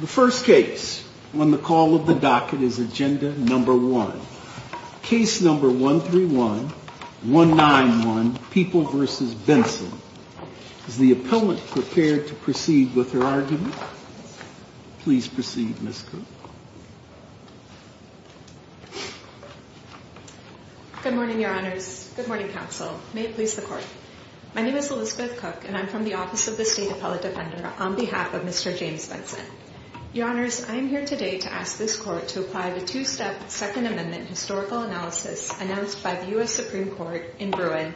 The first case on the call of the docket is Agenda No. 1, Case No. 131191, People v. Benson. Is the appellant prepared to proceed with her argument? Please proceed, Ms. Cook. Good morning, Your Honors. Good morning, Counsel. May it please the Court. My name is Elizabeth Cook, and I'm from the Office of the State Appellate Defender on behalf of Mr. James Benson. Your Honors, I am here today to ask this Court to apply the two-step Second Amendment historical analysis announced by the U.S. Supreme Court in Bruin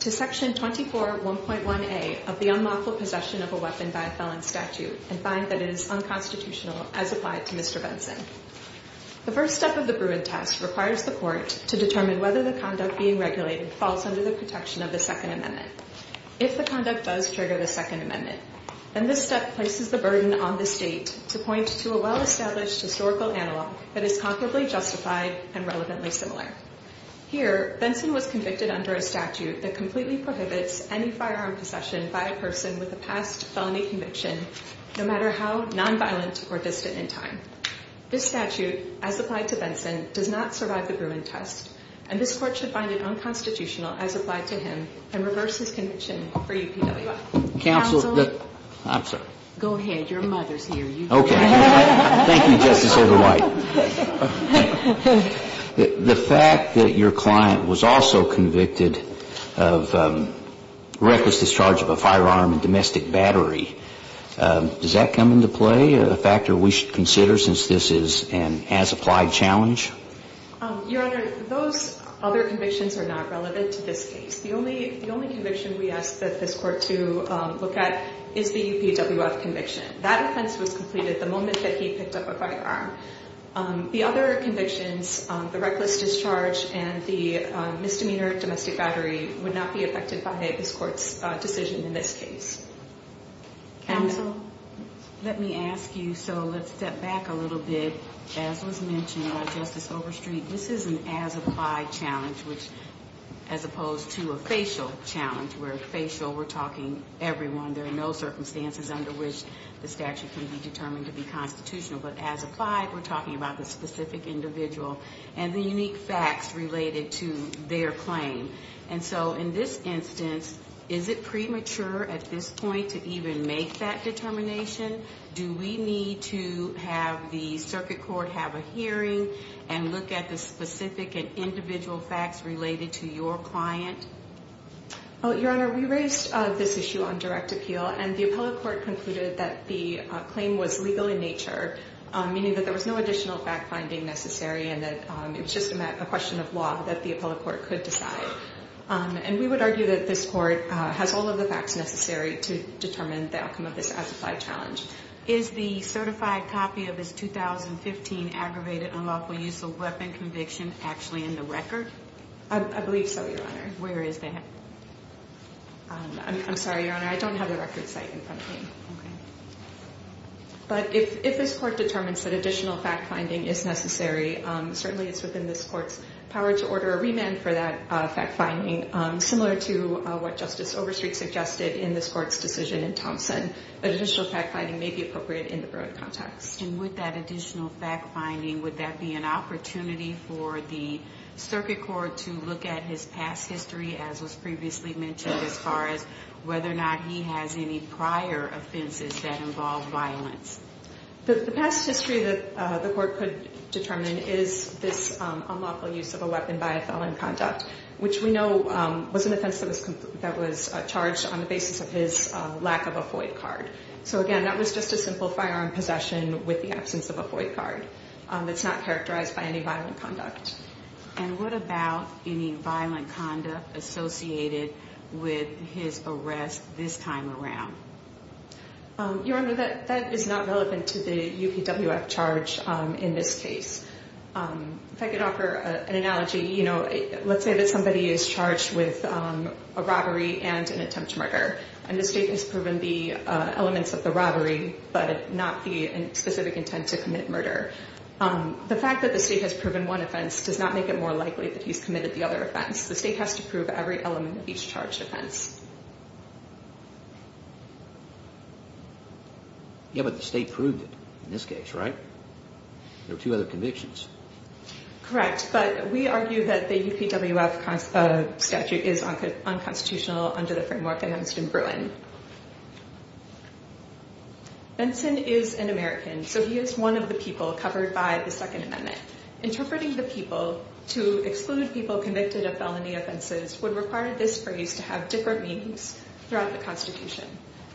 to Section 24.1.1a of the unlawful possession of a weapon by a felon statute and find that it is unconstitutional as applied to Mr. Benson. The first step of the Bruin test requires the Court to determine whether the conduct being regulated falls under the protection of the Second Amendment. If the conduct does trigger the Second Amendment, then this step places the burden on the State to point to a well-established historical analog that is comparably justified and relevantly similar. Here, Benson was convicted under a statute that completely prohibits any firearm possession by a person with a past felony conviction, no matter how nonviolent or distant in time. This statute, as applied to Benson, does not survive the Bruin test, and this Court should find it unconstitutional as applied to him and reverse his conviction for UPWI. Counsel? I'm sorry. Go ahead. Your mother's here. You can go ahead. Okay. Thank you, Justice O'Dwight. The fact that your client was also convicted of reckless discharge of a firearm and domestic battery, does that come into play, a factor we should consider since this is an as-applied challenge? Your Honor, those other convictions are not relevant to this case. The only conviction we ask that this Court to look at is the UPWF conviction. That offense was completed the moment that he picked up a firearm. The other convictions, the reckless discharge and the misdemeanor domestic battery, would not be affected by this Court's decision in this case. Counsel? Let me ask you, so let's step back a little bit. As was mentioned by Justice Overstreet, this is an as-applied challenge, as opposed to a facial challenge, where facial, we're talking everyone. There are no circumstances under which the statute can be determined to be constitutional. But as applied, we're talking about the specific individual and the unique facts related to their claim. And so in this instance, is it premature at this point to even make that determination? Do we need to have the circuit court have a hearing and look at the specific and individual facts related to your client? Your Honor, we raised this issue on direct appeal, and the appellate court concluded that the claim was legal in nature, meaning that there was no additional fact-finding necessary and that it was just a question of law that the appellate court could decide. And we would argue that this Court has all of the facts necessary to determine the outcome of this as-applied challenge. Is the certified copy of his 2015 aggravated unlawful use of weapon conviction actually in the record? I believe so, Your Honor. Where is that? I'm sorry, Your Honor, I don't have the record site in front of me. Okay. But if this Court determines that additional fact-finding is necessary, certainly it's within this Court's power to order a remand for that fact-finding, similar to what Justice Overstreet suggested in this Court's decision in Thompson, that additional fact-finding may be appropriate in the broad context. And with that additional fact-finding, would that be an opportunity for the circuit court to look at his past history, as was previously mentioned, as far as whether or not he has any prior offenses that involve violence? The past history that the Court could determine is this unlawful use of a weapon by a felon in conduct, which we know was an offense that was charged on the basis of his lack of a FOIA card. So, again, that was just a simple firearm possession with the absence of a FOIA card. It's not characterized by any violent conduct. And what about any violent conduct associated with his arrest this time around? Your Honor, that is not relevant to the UPWF charge in this case. If I could offer an analogy, you know, let's say that somebody is charged with a robbery and an attempted murder, and the State has proven the elements of the robbery but not the specific intent to commit murder. The fact that the State has proven one offense does not make it more likely that he's committed the other offense. The State has to prove every element of each charged offense. Yeah, but the State proved it in this case, right? There were two other convictions. Correct. But we argue that the UPWF statute is unconstitutional under the framework of Hemsden Bruin. Benson is an American, so he is one of the people covered by the Second Amendment. Interpreting the people to exclude people convicted of felony offenses would require this phrase to have different meanings throughout the Constitution.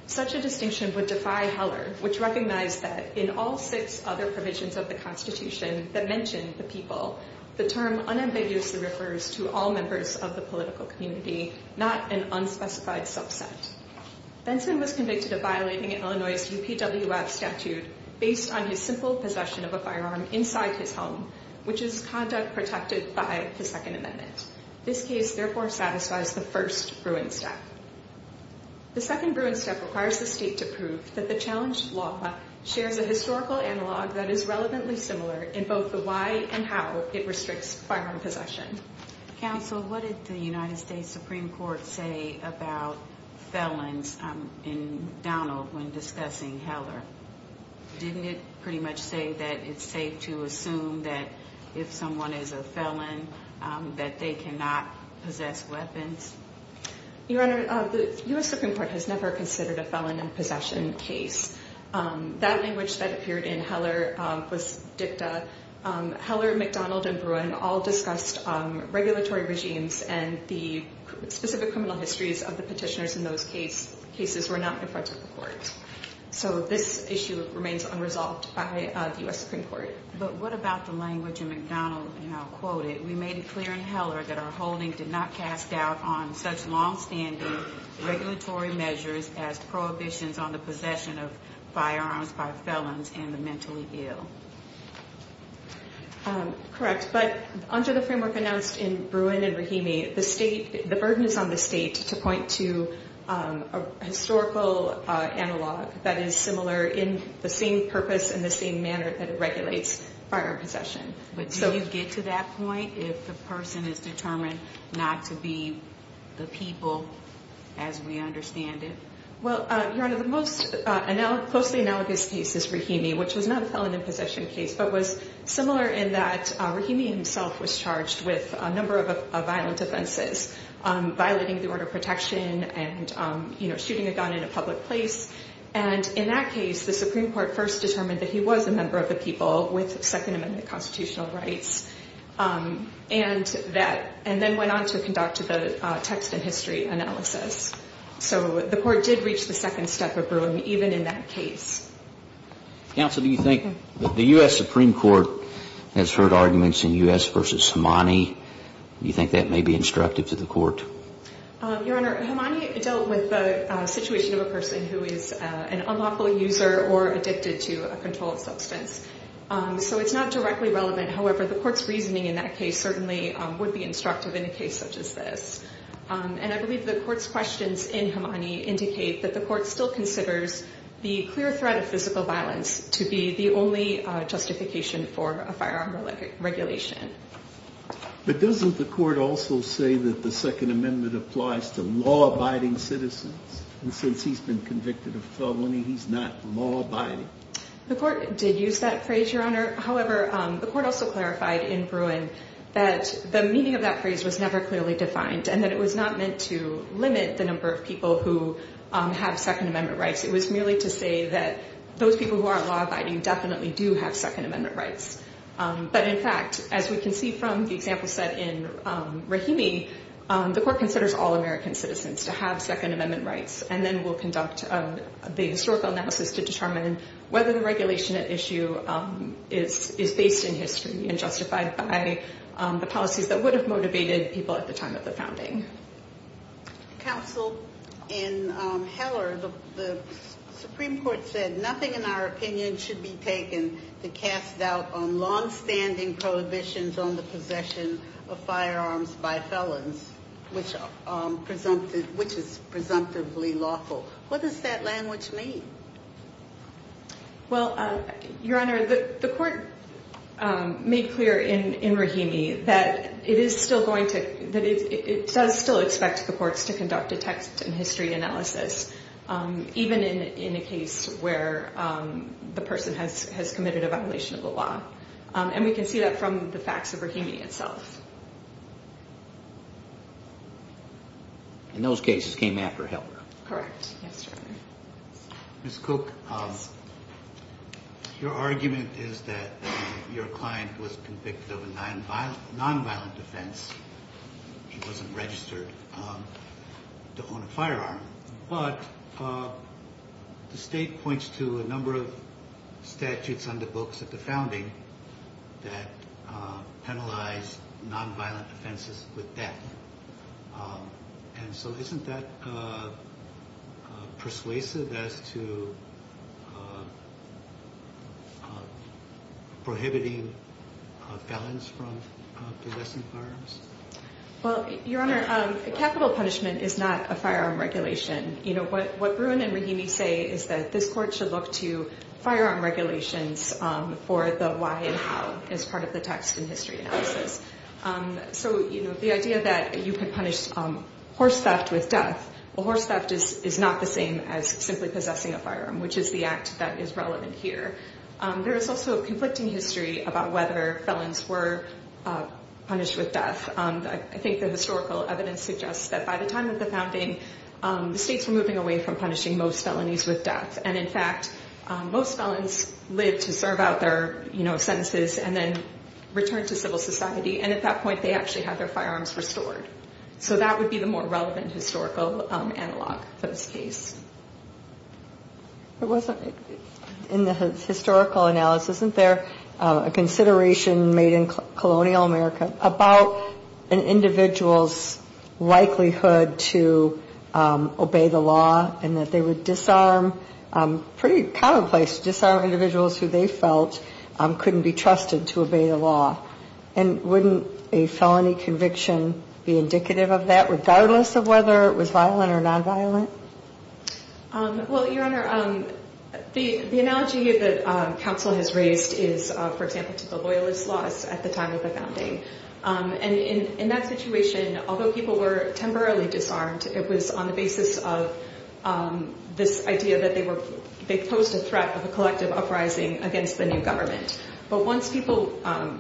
Such a distinction would defy Heller, which recognized that in all six other provisions of the Constitution that mention the people, the term unambiguously refers to all members of the political community, not an unspecified subset. Benson was convicted of violating Illinois' UPWF statute based on his simple possession of a firearm inside his home, which is conduct protected by the Second Amendment. This case, therefore, satisfies the first Bruin step. The second Bruin step requires the State to prove that the challenged law shares a historical analog that is relevantly similar in both the why and how it restricts firearm possession. Counsel, what did the United States Supreme Court say about felons in Donald when discussing Heller? Didn't it pretty much say that it's safe to assume that if someone is a felon that they cannot possess weapons? Your Honor, the U.S. Supreme Court has never considered a felon in possession case. That language that appeared in Heller was dicta. Heller, McDonald, and Bruin all discussed regulatory regimes, and the specific criminal histories of the petitioners in those cases were not in front of the court. So this issue remains unresolved by the U.S. Supreme Court. But what about the language in McDonald? We made it clear in Heller that our holding did not cast doubt on such longstanding regulatory measures as prohibitions on the possession of firearms by felons and the mentally ill. Correct. But under the framework announced in Bruin and Rahimi, the burden is on the State to point to a historical analog that is similar in the same purpose and the same manner that it regulates firearm possession. But do you get to that point if the person is determined not to be the people as we understand it? Well, Your Honor, the most closely analogous case is Rahimi, which was not a felon in possession case, but was similar in that Rahimi himself was charged with a number of violent offenses, violating the order of protection and shooting a gun in a public place. And in that case, the Supreme Court first determined that he was a member of the people with Second Amendment constitutional rights and then went on to conduct the text and history analysis. So the court did reach the second step of Bruin, even in that case. Counsel, do you think the U.S. Supreme Court has heard arguments in U.S. v. Himani? Do you think that may be instructive to the court? Your Honor, Himani dealt with the situation of a person who is an unlawful user or addicted to a controlled substance. So it's not directly relevant. However, the court's reasoning in that case certainly would be instructive in a case such as this. And I believe the court's questions in Himani indicate that the court still considers the clear threat of physical violence to be the only justification for a firearm regulation. But doesn't the court also say that the Second Amendment applies to law-abiding citizens? And since he's been convicted of felony, he's not law-abiding. The court did use that phrase, Your Honor. However, the court also clarified in Bruin that the meaning of that phrase was never clearly defined and that it was not meant to limit the number of people who have Second Amendment rights. It was merely to say that those people who are law-abiding definitely do have Second Amendment rights. But, in fact, as we can see from the example set in Rahimi, the court considers all American citizens to have Second Amendment rights and then will conduct the historical analysis to determine whether the regulation at issue is based in history and justified by the policies that would have motivated people at the time of the founding. Counsel, in Heller, the Supreme Court said, nothing in our opinion should be taken to cast doubt on long-standing prohibitions on the possession of firearms by felons, which is presumptively lawful. What does that language mean? Well, Your Honor, the court made clear in Rahimi that it does still expect the courts to conduct a text and history analysis, even in a case where the person has committed a violation of the law. And we can see that from the facts of Rahimi itself. And those cases came after Heller? Correct. Yes, Your Honor. Ms. Cook, your argument is that your client was convicted of a nonviolent offense. He wasn't registered to own a firearm. But the State points to a number of statutes on the books at the founding that penalize nonviolent offenses with death. And so isn't that persuasive as to prohibiting felons from possessing firearms? Well, Your Honor, capital punishment is not a firearm regulation. What Bruin and Rahimi say is that this court should look to firearm regulations for the why and how as part of the text and history analysis. So, you know, the idea that you can punish horse theft with death or horse theft is not the same as simply possessing a firearm, which is the act that is relevant here. There is also a conflicting history about whether felons were punished with death. I think the historical evidence suggests that by the time of the founding, the states were moving away from punishing most felonies with death. And in fact, most felons lived to serve out their, you know, sentences and then returned to civil society. And at that point, they actually had their firearms restored. So that would be the more relevant historical analog for this case. It wasn't in the historical analysis, isn't there a consideration made in colonial America about an individual's likelihood to obey the law and that they would disarm, pretty commonplace to disarm individuals who they felt couldn't be trusted to obey the law? And wouldn't a felony conviction be indicative of that, regardless of whether it was violent or nonviolent? Well, Your Honor, the analogy that counsel has raised is, for example, to the Loyalist laws at the time of the founding. And in that situation, although people were temporarily disarmed, it was on the basis of this idea that they posed a threat of a collective uprising against the new government. But once people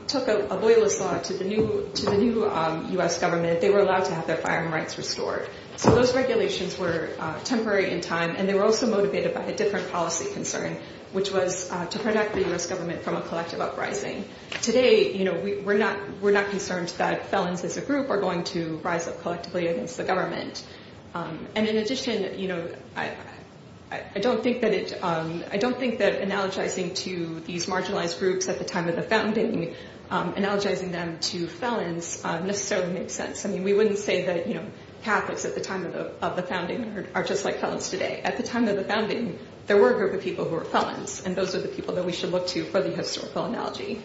took a Loyalist law to the new U.S. government, they were allowed to have their firearm rights restored. So those regulations were temporary in time, and they were also motivated by a different policy concern, which was to protect the U.S. government from a collective uprising. Today, we're not concerned that felons as a group are going to rise up collectively against the government. And in addition, I don't think that analogizing to these marginalized groups at the time of the founding, analogizing them to felons, necessarily makes sense. I mean, we wouldn't say that Catholics at the time of the founding are just like felons today. At the time of the founding, there were a group of people who were felons, and those are the people that we should look to for the historical analogy.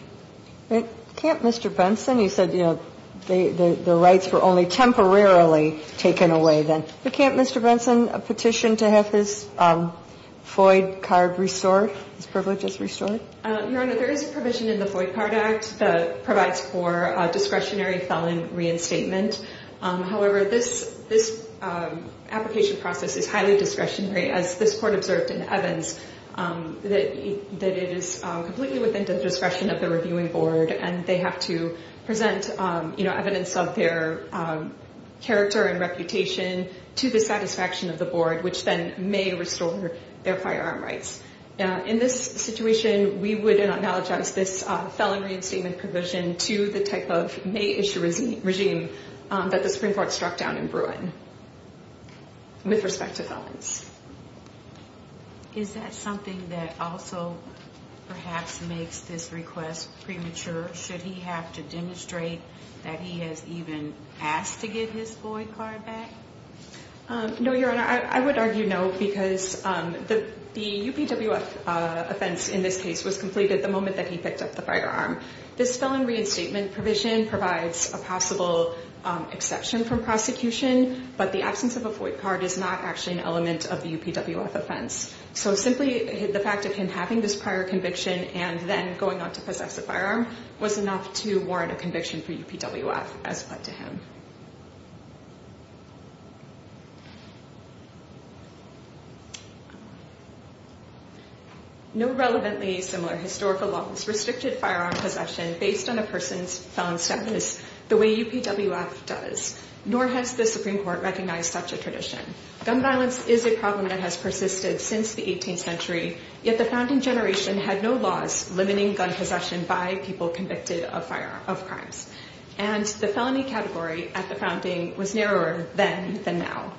But can't Mr. Benson, you said, you know, the rights were only temporarily taken away then. But can't Mr. Benson petition to have his FOID card restored, his privileges restored? Your Honor, there is a provision in the FOID card act that provides for discretionary felon reinstatement. However, this application process is highly discretionary, as this court observed in Evans, that it is completely within the discretion of the reviewing board, and they have to present evidence of their character and reputation to the satisfaction of the board, which then may restore their firearm rights. In this situation, we would analogize this felon reinstatement provision to the type of May issue regime that the Supreme Court struck down in Bruin with respect to felons. Is that something that also perhaps makes this request premature? Should he have to demonstrate that he has even asked to get his FOID card back? No, Your Honor, I would argue no, because the UPWF offense in this case was completed the moment that he picked up the firearm. This felon reinstatement provision provides a possible exception from prosecution, but the absence of a FOID card is not actually an element of the UPWF offense. So simply the fact of him having this prior conviction and then going on to possess a firearm was enough to warrant a conviction for UPWF, as pled to him. No relevantly similar historical law has restricted firearm possession based on a person's felon status the way UPWF does, nor has the Supreme Court recognized such a tradition. Gun violence is a problem that has persisted since the 18th century, yet the founding generation had no laws limiting gun possession by people convicted of crimes. And the felony category at the founding was narrower then than now.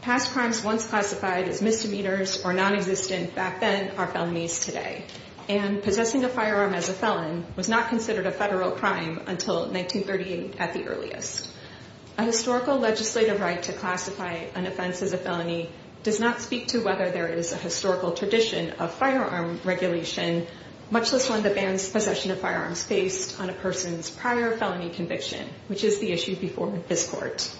Past crimes once classified as misdemeanors or nonexistent back then are felonies today. And possessing a firearm as a felon was not considered a federal crime until 1938 at the earliest. A historical legislative right to classify an offense as a felony does not speak to whether there is a historical tradition of firearm regulation, much less one that bans possession of firearms based on a person's prior felony conviction, which is the issue before this court.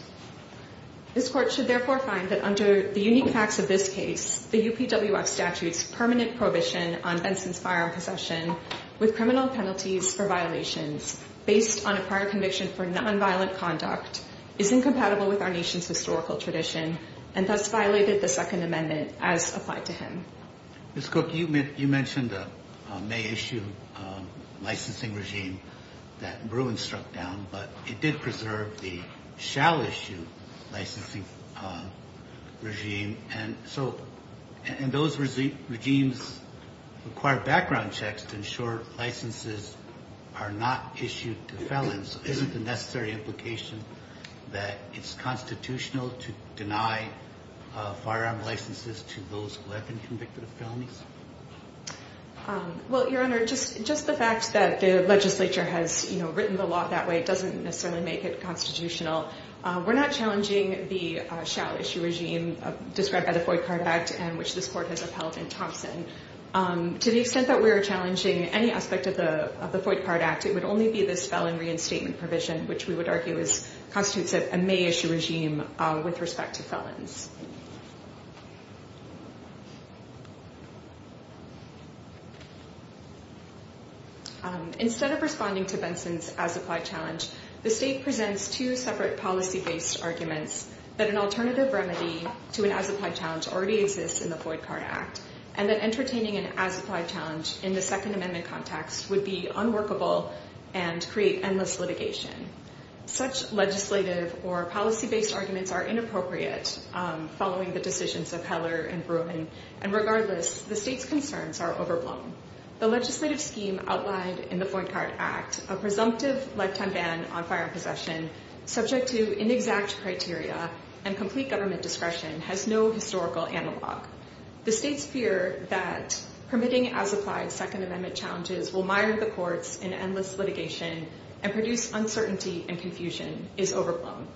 This court should therefore find that under the unique facts of this case, the UPWF statute's permanent prohibition on Benson's firearm possession with criminal penalties for violations based on a prior conviction for nonviolent conduct is incompatible with our nation's historical tradition and thus violated the Second Amendment as applied to him. Ms. Cook, you mentioned the May issue licensing regime that Bruin struck down, but it did preserve the shall issue licensing regime. And those regimes require background checks to ensure licenses are not issued to felons. Isn't the necessary implication that it's constitutional to deny firearm licenses to those who have been convicted of felonies? Well, Your Honor, just the fact that the legislature has written the law that way doesn't necessarily make it constitutional. We're not challenging the shall issue regime described by the Foyt Card Act and which this court has upheld in Thompson. To the extent that we are challenging any aspect of the Foyt Card Act, it would only be this felon reinstatement provision, which we would argue constitutes a May issue regime with respect to felons. Instead of responding to Benson's as-applied challenge, the state presents two separate policy-based arguments that an alternative remedy to an as-applied challenge already exists in the Foyt Card Act and that entertaining an as-applied challenge in the Second Amendment context would be unworkable and create endless litigation. Such legislative or policy-based arguments are inappropriate following the decisions of Heller and Bruin, and regardless, the state's concerns are overblown. The legislative scheme outlined in the Foyt Card Act, a presumptive lifetime ban on firearm possession subject to inexact criteria and complete government discretion, has no historical analog. The state's fear that permitting as-applied Second Amendment challenges will mire the courts in endless litigation and produce uncertainty and confusion is overblown.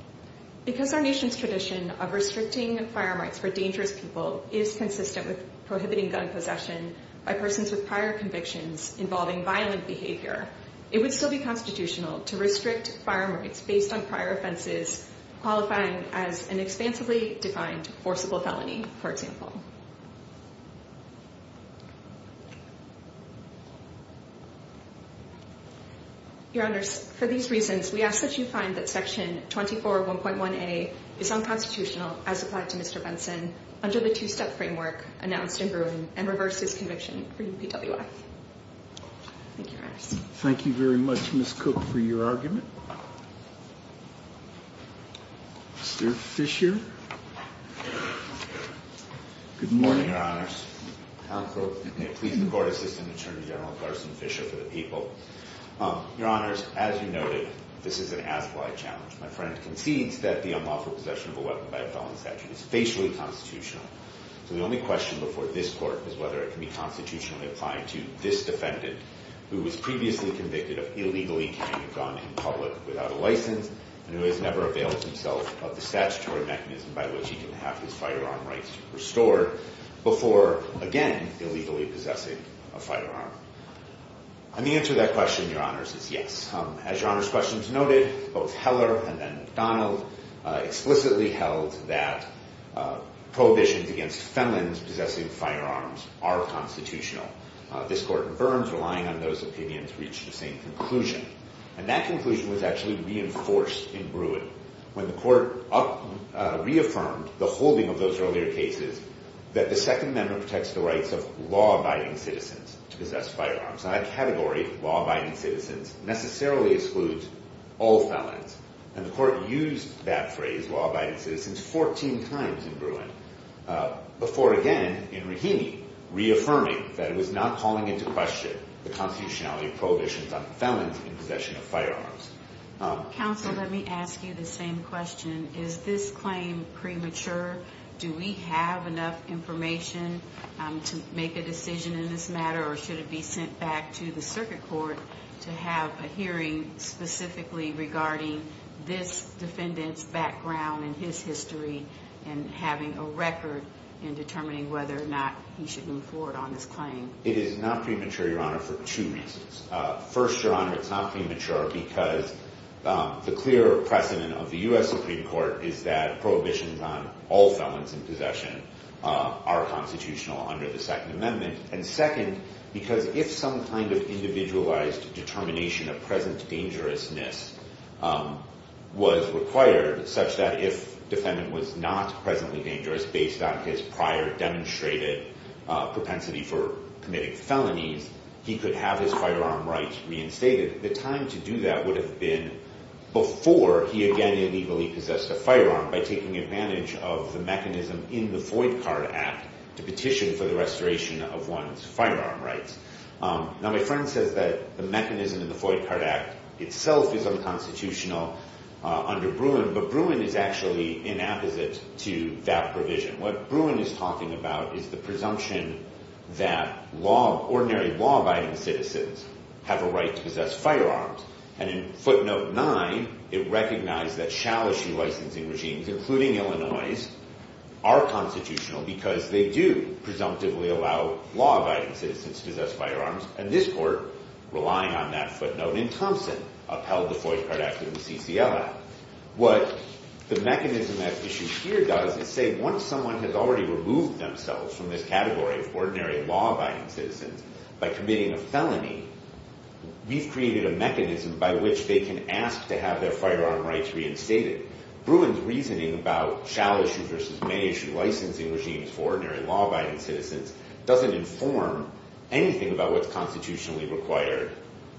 Because our nation's tradition of restricting firearm rights for dangerous people is consistent with prohibiting gun possession by persons with prior convictions involving violent behavior, it would still be constitutional to restrict firearm rights based on prior offenses qualifying as an expansively defined forcible felony, for example. Your Honors, for these reasons, we ask that you find that Section 24.1.1a is unconstitutional as applied to Mr. Benson under the two-step framework announced in Bruin and reverse his conviction for UPWF. Thank you, Your Honors. Thank you very much, Ms. Cook, for your argument. Mr. Fisher? Good morning, Your Honors. Tom Cook. Pleasing Court Assistant Attorney General Carson Fisher for the people. Your Honors, as you noted, this is an as-applied challenge. My friend concedes that the unlawful possession of a weapon by a felon statute is facially constitutional. So the only question before this Court is whether it can be constitutionally applied to this defendant who was previously convicted of illegally carrying a gun in public without a license and who has never availed himself of the statutory mechanism by which he can have his firearm rights restored before, again, illegally possessing a firearm. And the answer to that question, Your Honors, is yes. As Your Honors' questions noted, both Heller and then McDonald explicitly held that prohibitions against felons possessing firearms are constitutional. This Court confirms, relying on those opinions, reached the same conclusion. And that conclusion was actually reinforced in Bruin when the Court reaffirmed the holding of those earlier cases that the Second Amendment protects the rights of law-abiding citizens to possess firearms. And that category, law-abiding citizens, necessarily excludes all felons. And the Court used that phrase, law-abiding citizens, 14 times in Bruin before, again, in Rahimi, reaffirming that it was not calling into question the constitutionality of prohibitions on felons in possession of firearms. Counsel, let me ask you the same question. Is this claim premature? Do we have enough information to make a decision in this matter? Or should it be sent back to the Circuit Court to have a hearing specifically regarding this defendant's background and his history and having a record in determining whether or not he should move forward on this claim? It is not premature, Your Honor, for two reasons. First, Your Honor, it's not premature because the clear precedent of the U.S. Supreme Court is that prohibitions on all felons in possession are constitutional under the Second Amendment. And second, because if some kind of individualized determination of present dangerousness was required such that if defendant was not presently dangerous based on his prior demonstrated propensity for committing felonies, he could have his firearm rights reinstated. The time to do that would have been before he, again, illegally possessed a firearm by taking advantage of the mechanism in the Void Card Act to petition for the restoration of one's firearm rights. Now, my friend says that the mechanism in the Void Card Act itself is unconstitutional under Bruin, but Bruin is actually in apposite to that provision. What Bruin is talking about is the presumption that ordinary law-abiding citizens have a right to possess firearms. And in Footnote 9, it recognized that challenging licensing regimes, including Illinois', are constitutional because they do presumptively allow law-abiding citizens to possess firearms. And this Court, relying on that footnote in Thompson, upheld the Void Card Act through the CCL Act. What the mechanism at issue here does is say once someone has already removed themselves from this category of ordinary law-abiding citizens by committing a felony, we've created a mechanism by which they can ask to have their firearm rights reinstated. Bruin's reasoning about shall-issue versus may-issue licensing regimes for ordinary law-abiding citizens doesn't inform anything about what's constitutionally required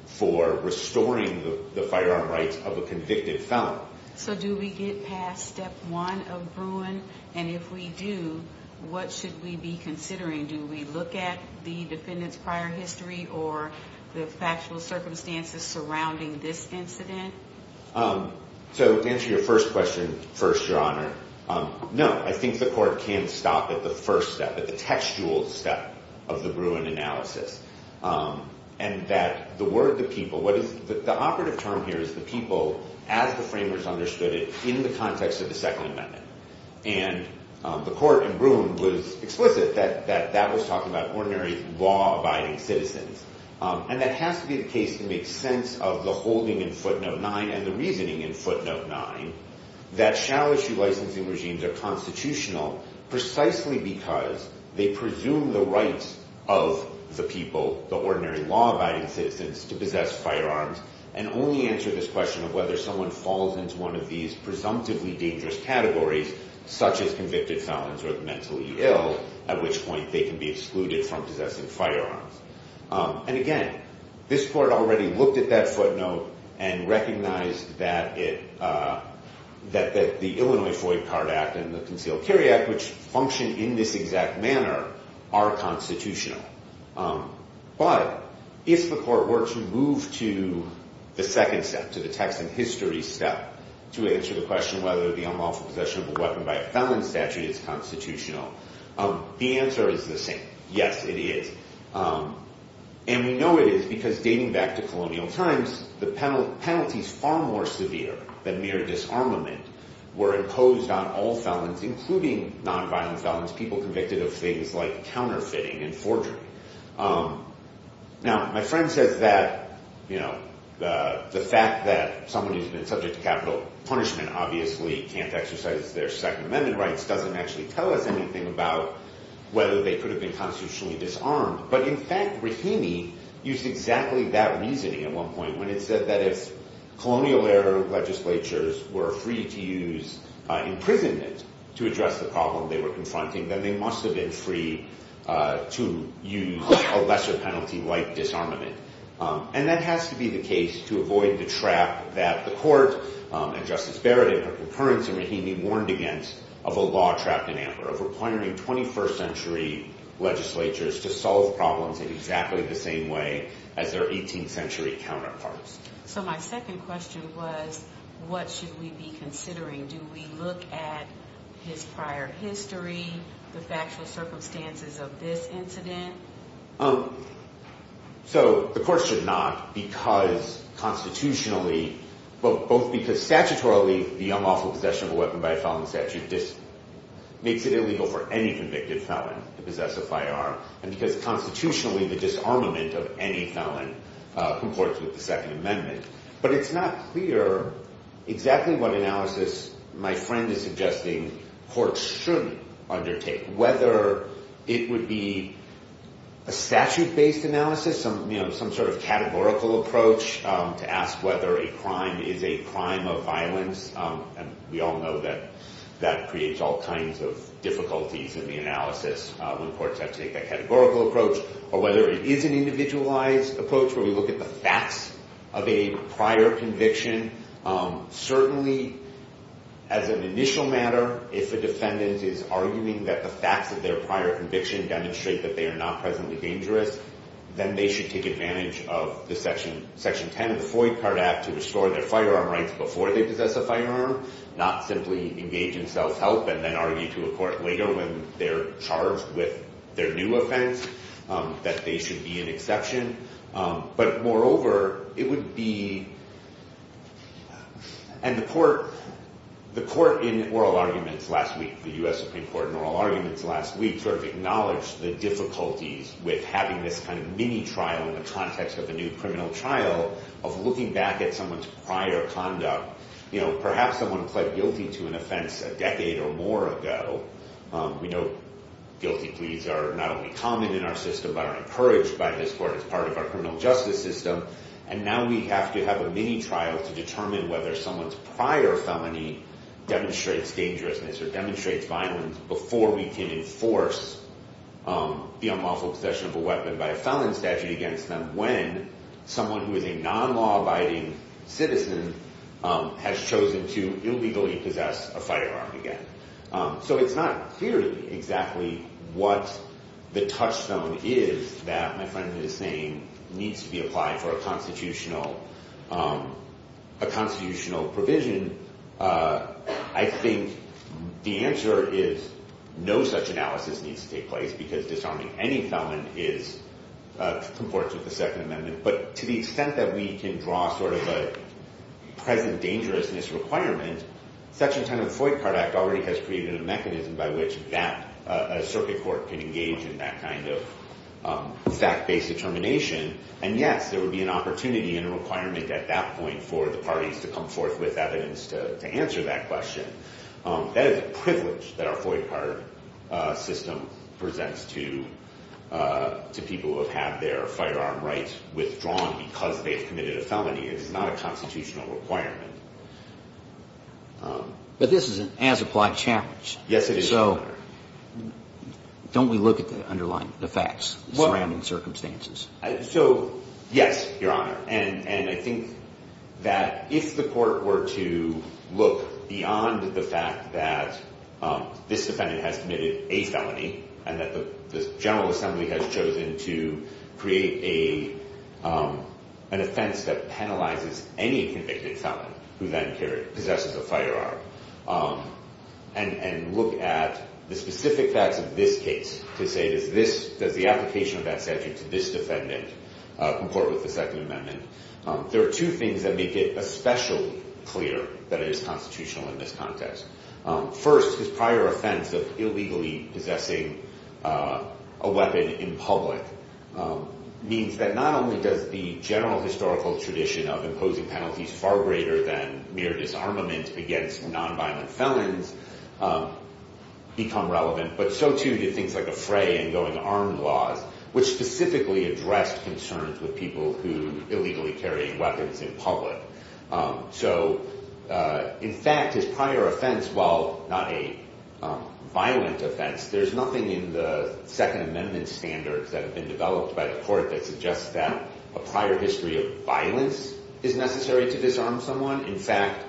for restoring the firearm rights of a convicted felon. So do we get past Step 1 of Bruin? And if we do, what should we be considering? Do we look at the defendant's prior history or the factual circumstances surrounding this incident? So to answer your first question first, Your Honor, no. I think the Court can stop at the first step, at the textual step of the Bruin analysis. And that the word the people, the operative term here is the people as the framers understood it in the context of the Second Amendment. And the Court in Bruin was explicit that that was talking about ordinary law-abiding citizens. And that has to be the case to make sense of the holding in Footnote 9 and the reasoning in Footnote 9 that shall-issue licensing regimes are constitutional precisely because they presume the rights of the people, the ordinary law-abiding citizens, to possess firearms. And only answer this question of whether someone falls into one of these presumptively dangerous categories, such as convicted felons or mentally ill, at which point they can be excluded from possessing firearms. And again, this Court already looked at that footnote and recognized that the Illinois Foy Card Act and the Concealed Carry Act, which function in this exact manner, are constitutional. But if the Court were to move to the second step, to the text and history step, to answer the question whether the unlawful possession of a weapon by a felon statute is constitutional, the answer is the same. Yes, it is. And we know it is because, dating back to colonial times, the penalties far more severe than mere disarmament were imposed on all felons, including nonviolent felons, people convicted of things like counterfeiting and forgery. Now, my friend says that the fact that someone who's been subject to capital punishment obviously can't exercise their Second Amendment rights doesn't actually tell us anything about whether they could have been constitutionally disarmed. But in fact, Rahimi used exactly that reasoning at one point when he said that if colonial-era legislatures were free to use imprisonment to address the problem they were confronting, then they must have been free to use a lesser penalty like disarmament. And that has to be the case to avoid the trap that the Court and Justice Barrett in her concurrence in Rahimi warned against of a law trapped in amber, of requiring 21st century legislatures to solve problems in exactly the same way as their 18th century counterparts. So my second question was, what should we be considering? Do we look at his prior history, the factual circumstances of this incident? So the Court should not because constitutionally, both because statutorily the unlawful possession of a weapon by a felon statute makes it illegal for any convicted felon to possess a firearm, and because constitutionally the disarmament of any felon who courts with the Second Amendment. But it's not clear exactly what analysis my friend is suggesting courts should undertake, whether it would be a statute-based analysis, some sort of categorical approach to ask whether a crime is a crime of violence. And we all know that that creates all kinds of difficulties in the analysis when courts have to take that categorical approach, or whether it is an individualized approach where we look at the facts of a prior conviction. Certainly, as an initial matter, if a defendant is arguing that the facts of their prior conviction demonstrate that they are not presently dangerous, then they should take advantage of the Section 10 of the Foy Card Act to restore their firearm rights before they possess a firearm, not simply engage in self-help and then argue to a court later when they're charged with their new offense that they should be an exception. But moreover, it would be, and the court in oral arguments last week, the US Supreme Court in oral arguments last week, sort of acknowledged the difficulties with having this kind of mini-trial in the context of a new criminal trial of looking back at someone's prior conduct. Perhaps someone pled guilty to an offense a decade or more ago. We know guilty pleas are not only common in our system, but are encouraged by this court as part of our criminal justice system. And now we have to have a mini-trial to determine whether someone's prior felony demonstrates dangerousness or demonstrates violence before we can enforce the unlawful possession of a weapon by a felon statute against them when someone who is a non-law-abiding citizen has chosen to illegally possess a firearm again. So it's not clear to me exactly what the touchstone is that my friend is saying needs to be applied for a constitutional provision. I think the answer is no such analysis needs to take place because disarming any felon comports with the Second Amendment. But to the extent that we can draw sort of a present dangerousness requirement, such a kind of FOIC card act already has created a mechanism by which a circuit court can engage in that kind of fact-based determination. And yes, there would be an opportunity and a requirement at that point for the parties to come forth with evidence to answer that question. That is a privilege that our FOIC card system presents to people who have had their firearm rights withdrawn because they have committed a felony. It is not a constitutional requirement. But this is an as-applied challenge. Yes, it is, Your Honor. So don't we look at the underlying facts surrounding circumstances? So, yes, Your Honor. And I think that if the court were to look beyond the fact that this defendant has committed a felony and that the General Assembly has chosen to create an offense that penalizes any convicted felon who then possesses a firearm, and look at the specific facts of this case to say, does the application of that statute to this defendant comport with the Second Amendment, there are two things that make it especially clear that it is constitutional in this context. First, his prior offense of illegally possessing a weapon in public means that not only does the general historical tradition of imposing penalties far greater than mere disarmament against nonviolent felons become relevant, but so, too, do things like a fray in going armed laws, which specifically address concerns with people who illegally carry weapons in public. So, in fact, his prior offense, while not a violent offense, there's nothing in the Second Amendment standards that have been developed by the court that suggests that a prior history of violence is necessary to disarm someone. In fact,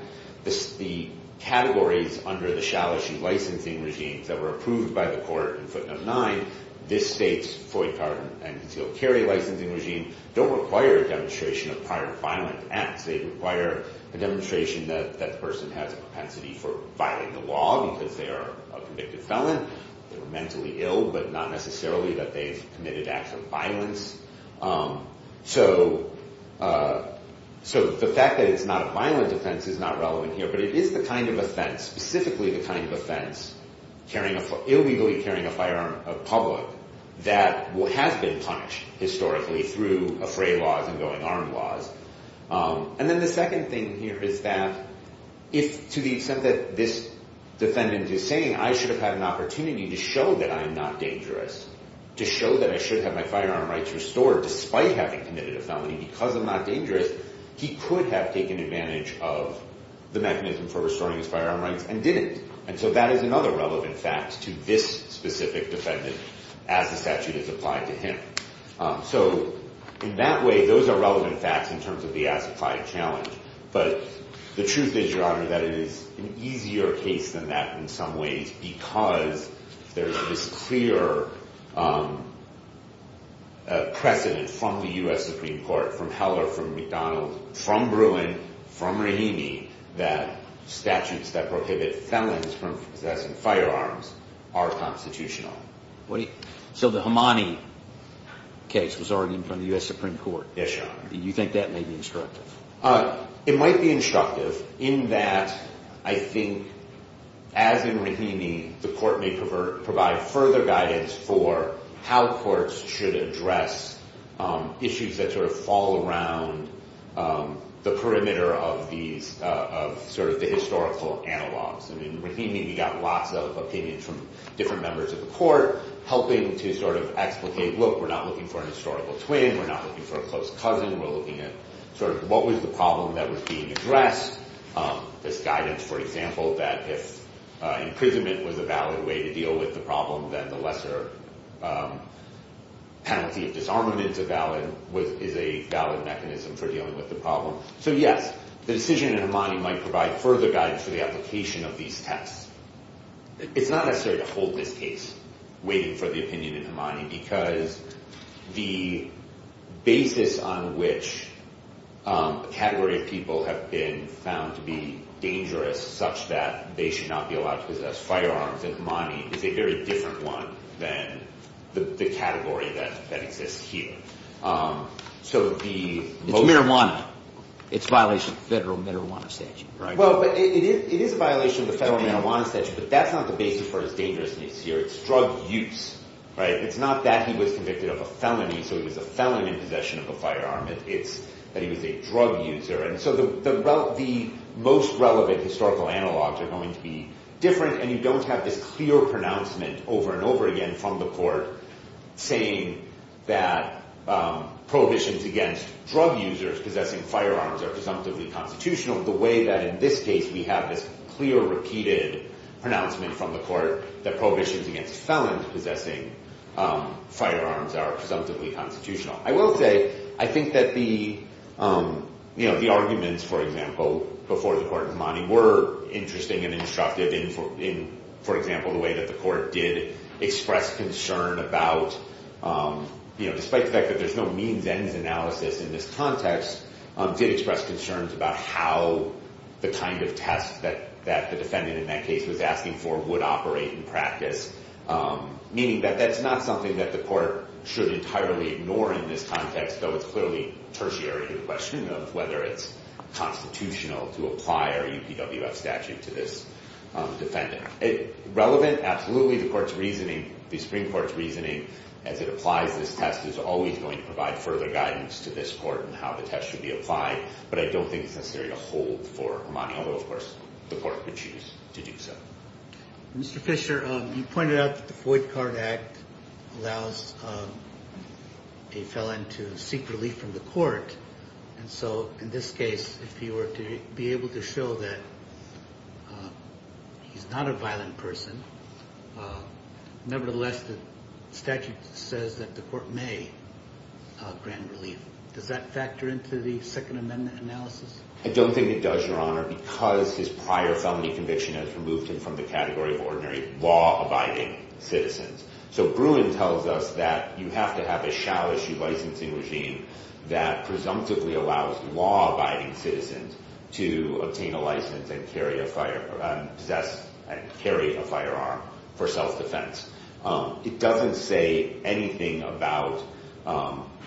the categories under the shall issue licensing regimes that were approved by the court in footnote 9, this state's FOI card and concealed carry licensing regime, don't require a demonstration of prior violent acts. They require a demonstration that that person has a propensity for violating the law because they are a convicted felon. They're mentally ill, but not necessarily that they've committed acts of violence. So the fact that it's not a violent offense is not relevant here, but it is the kind of offense, specifically the kind of offense, illegally carrying a firearm in public, that has been punished historically through a fray laws and going armed laws. And then the second thing here is that if, to the extent that this defendant is saying, I should have had an opportunity to show that I'm not dangerous, to show that I should have my firearm rights restored despite having committed a felony because I'm not dangerous, he could have taken advantage of the mechanism for restoring his firearm rights and didn't. And so that is another relevant fact to this specific defendant as the statute is applied to him. So in that way, those are relevant facts in terms of the as-applied challenge. But the truth is, Your Honor, that it is an easier case than that in some ways because there is this clear precedent from the U.S. Supreme Court, from Heller, from McDonald, from Bruin, from Rahimi, that statutes that prohibit felons from possessing firearms are constitutional. So the Hamani case was argued in front of the U.S. Supreme Court. Yes, Your Honor. Do you think that may be instructive? It might be instructive in that I think, as in Rahimi, the court may provide further guidance for how courts should address issues that sort of fall around the perimeter of these, of sort of the historical analogs. I mean, Rahimi got lots of opinions from different members of the court helping to sort of explicate, look, we're not looking for a historical twin, we're not looking for a close cousin, we're looking at sort of what was the problem that was being addressed. This guidance, for example, that if imprisonment was a valid way to deal with the problem, then the lesser penalty of disarmament is a valid mechanism for dealing with the problem. So, yes, the decision in Hamani might provide further guidance for the application of these texts. It's not necessary to hold this case, waiting for the opinion in Hamani, because the basis on which a category of people have been found to be dangerous such that they should not be allowed to possess firearms in Hamani is a very different one than the category that exists here. It's marijuana. It's a violation of the federal marijuana statute. Well, it is a violation of the federal marijuana statute, but that's not the basis for his dangerousness here. It's drug use, right? It's not that he was convicted of a felony, so he was a felon in possession of a firearm. It's that he was a drug user. And so the most relevant historical analogs are going to be different, and you don't have this clear pronouncement over and over again from the court saying that prohibitions against drug users possessing firearms are presumptively constitutional the way that in this case we have this clear, repeated pronouncement from the court that prohibitions against felons possessing firearms are presumptively constitutional. I will say, I think that the arguments, for example, before the court in Hamani were interesting and instructive in, for example, the way that the court did express concern about, despite the fact that there's no means-ends analysis in this context, did express concerns about how the kind of test that the defendant in that case was asking for would operate in practice, meaning that that's not something that the court should entirely ignore in this context, though it's clearly tertiary to the question of whether it's constitutional to apply our UPWF statute to this defendant. Relevant? Absolutely. The Supreme Court's reasoning as it applies this test is always going to provide further guidance to this court in how the test should be applied, but I don't think it's necessary to hold for Hamani, although, of course, the court could choose to do so. Mr. Fisher, you pointed out that the Void Card Act allows a felon to seek relief from the court, and so in this case, if he were to be able to show that he's not a violent person, nevertheless, the statute says that the court may grant relief. Does that factor into the Second Amendment analysis? I don't think it does, Your Honor, because his prior felony conviction has removed him from the category of ordinary law-abiding citizens. So Bruin tells us that you have to have a shall-issue licensing regime that presumptively allows law-abiding citizens to obtain a license and carry a firearm for self-defense. It doesn't say anything about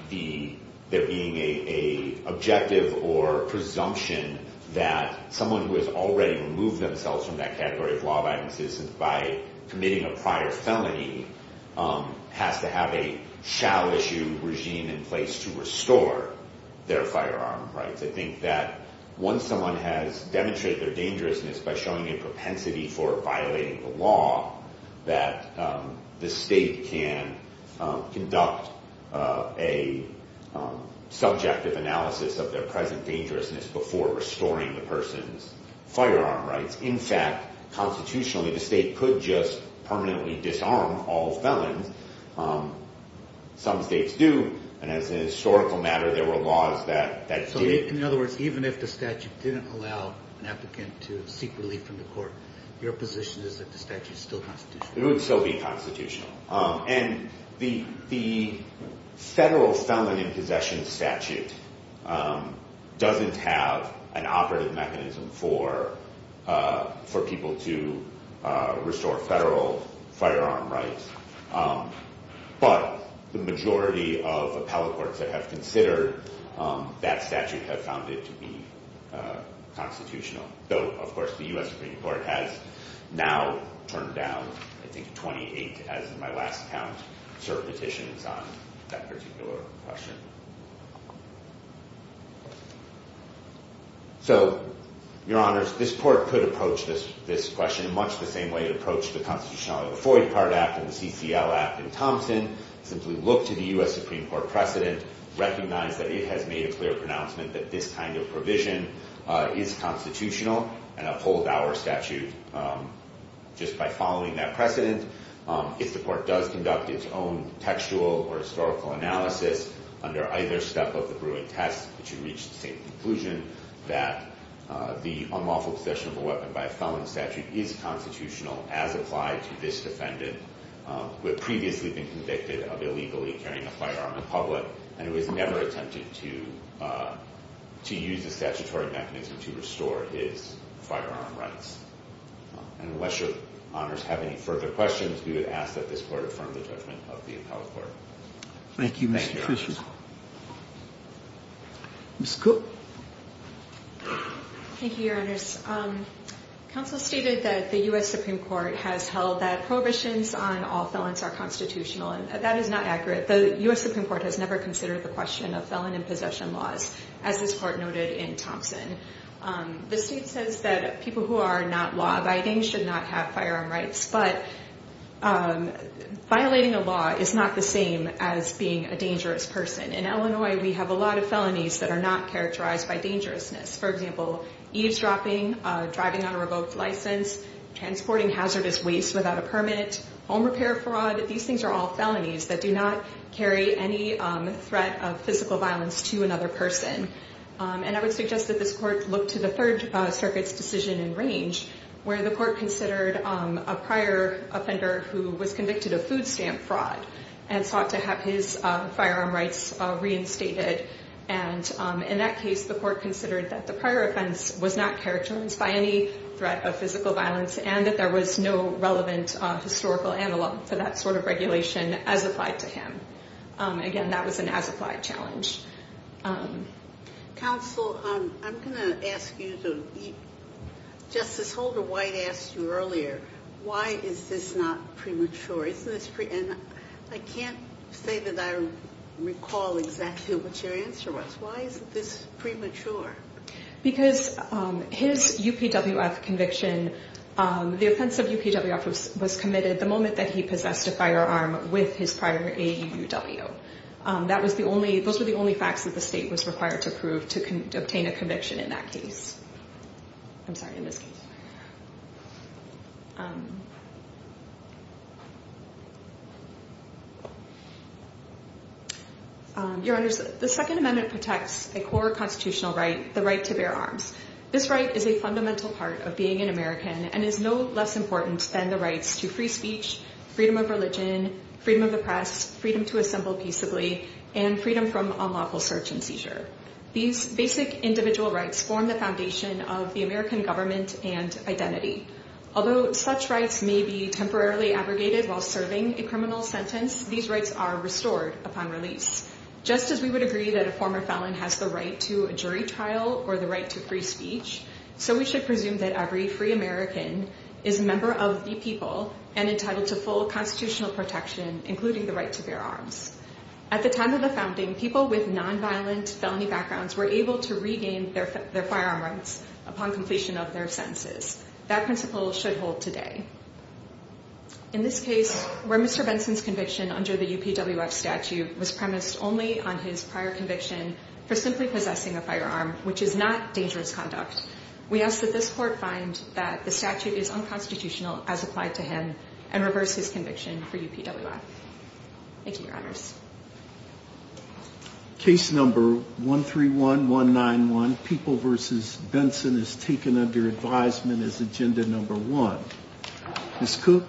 there being an objective or presumption that someone who has already removed themselves from that category of law-abiding citizens by committing a prior felony has to have a shall-issue regime in place to restore their firearm rights. I think that once someone has demonstrated their dangerousness by showing a propensity for violating the law, that the state can conduct a subjective analysis of their present dangerousness before restoring the person's firearm rights. In fact, constitutionally, the state could just permanently disarm all felons. Some states do, and as a historical matter, there were laws that did. So in other words, even if the statute didn't allow an applicant to seek relief from the court, your position is that the statute is still constitutional. It would still be constitutional. And the federal felon-in-possession statute doesn't have an operative mechanism for people to restore federal firearm rights. But the majority of appellate courts that have considered that statute have found it to be constitutional, though, of course, the U.S. Supreme Court has now turned down, I think, 28, as is my last count, cert petitions on that particular question. So, Your Honors, this court could approach this question in much the same way it approached the Constitutionality of the Forty-Part Act and the CCL Act in Thompson, simply look to the U.S. Supreme Court precedent, recognize that it has made a clear pronouncement that this kind of provision is constitutional, and uphold our statute just by following that precedent. If the court does conduct its own textual or historical analysis under either step of the Bruin test, it should reach the same conclusion that the unlawful possession of a weapon by a felon statute is constitutional, as applied to this defendant, who had previously been convicted of illegally carrying a firearm in public and who has never attempted to use a statutory mechanism to restore his firearm rights. And unless Your Honors have any further questions, we would ask that this court affirm the judgment of the appellate court. Thank you, Mr. Christian. Ms. Cook. Thank you, Your Honors. Counsel stated that the U.S. Supreme Court has held that prohibitions on all felons are constitutional, and that is not accurate. The U.S. Supreme Court has never considered the question of felon and possession laws, as this court noted in Thompson. The state says that people who are not law-abiding should not have firearm rights, but violating a law is not the same as being a dangerous person. In Illinois, we have a lot of felonies that are not characterized by dangerousness. For example, eavesdropping, driving on a revoked license, transporting hazardous waste without a permit, home repair fraud, these things are all felonies that do not carry any threat of physical violence to another person. And I would suggest that this court look to the Third Circuit's decision in range, where the court considered a prior offender who was convicted of food stamp fraud and sought to have his firearm rights reinstated. And in that case, the court considered that the prior offense was not characterized by any threat of physical violence and that there was no relevant historical analog for that sort of regulation as applied to him. Again, that was an as-applied challenge. Counsel, I'm going to ask you to – Justice Holder-White asked you earlier, why is this not premature? And I can't say that I recall exactly what your answer was. Why is this premature? Because his UPWF conviction – the offense of UPWF was committed the moment that he possessed a firearm with his prior AUW. That was the only – those were the only facts that the state was required to prove to obtain a conviction in that case. I'm sorry, in this case. Your Honors, the Second Amendment protects a core constitutional right, the right to bear arms. This right is a fundamental part of being an American and is no less important than the rights to free speech, freedom of religion, freedom of the press, freedom to assemble peaceably, and freedom from unlawful search and seizure. These basic individual rights form the foundation of the American government and identity. Although such rights may be temporarily abrogated while serving a criminal sentence, these rights are restored upon release. Just as we would agree that a former felon has the right to a jury trial or the right to free speech, so we should presume that every free American is a member of the people and entitled to full constitutional protection, including the right to bear arms. At the time of the founding, people with nonviolent felony backgrounds were able to regain their firearm rights upon completion of their sentences. That principle should hold today. In this case, where Mr. Benson's conviction under the UPWF statute was premised only on his prior conviction for simply possessing a firearm, which is not dangerous conduct, we ask that this court find that the statute is unconstitutional as applied to him and reverse his conviction for UPWF. Thank you, Your Honors. Case number 131191, People v. Benson, is taken under advisement as agenda number one. Ms. Cook,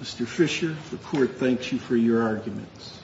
Mr. Fisher, the court thanks you for your arguments.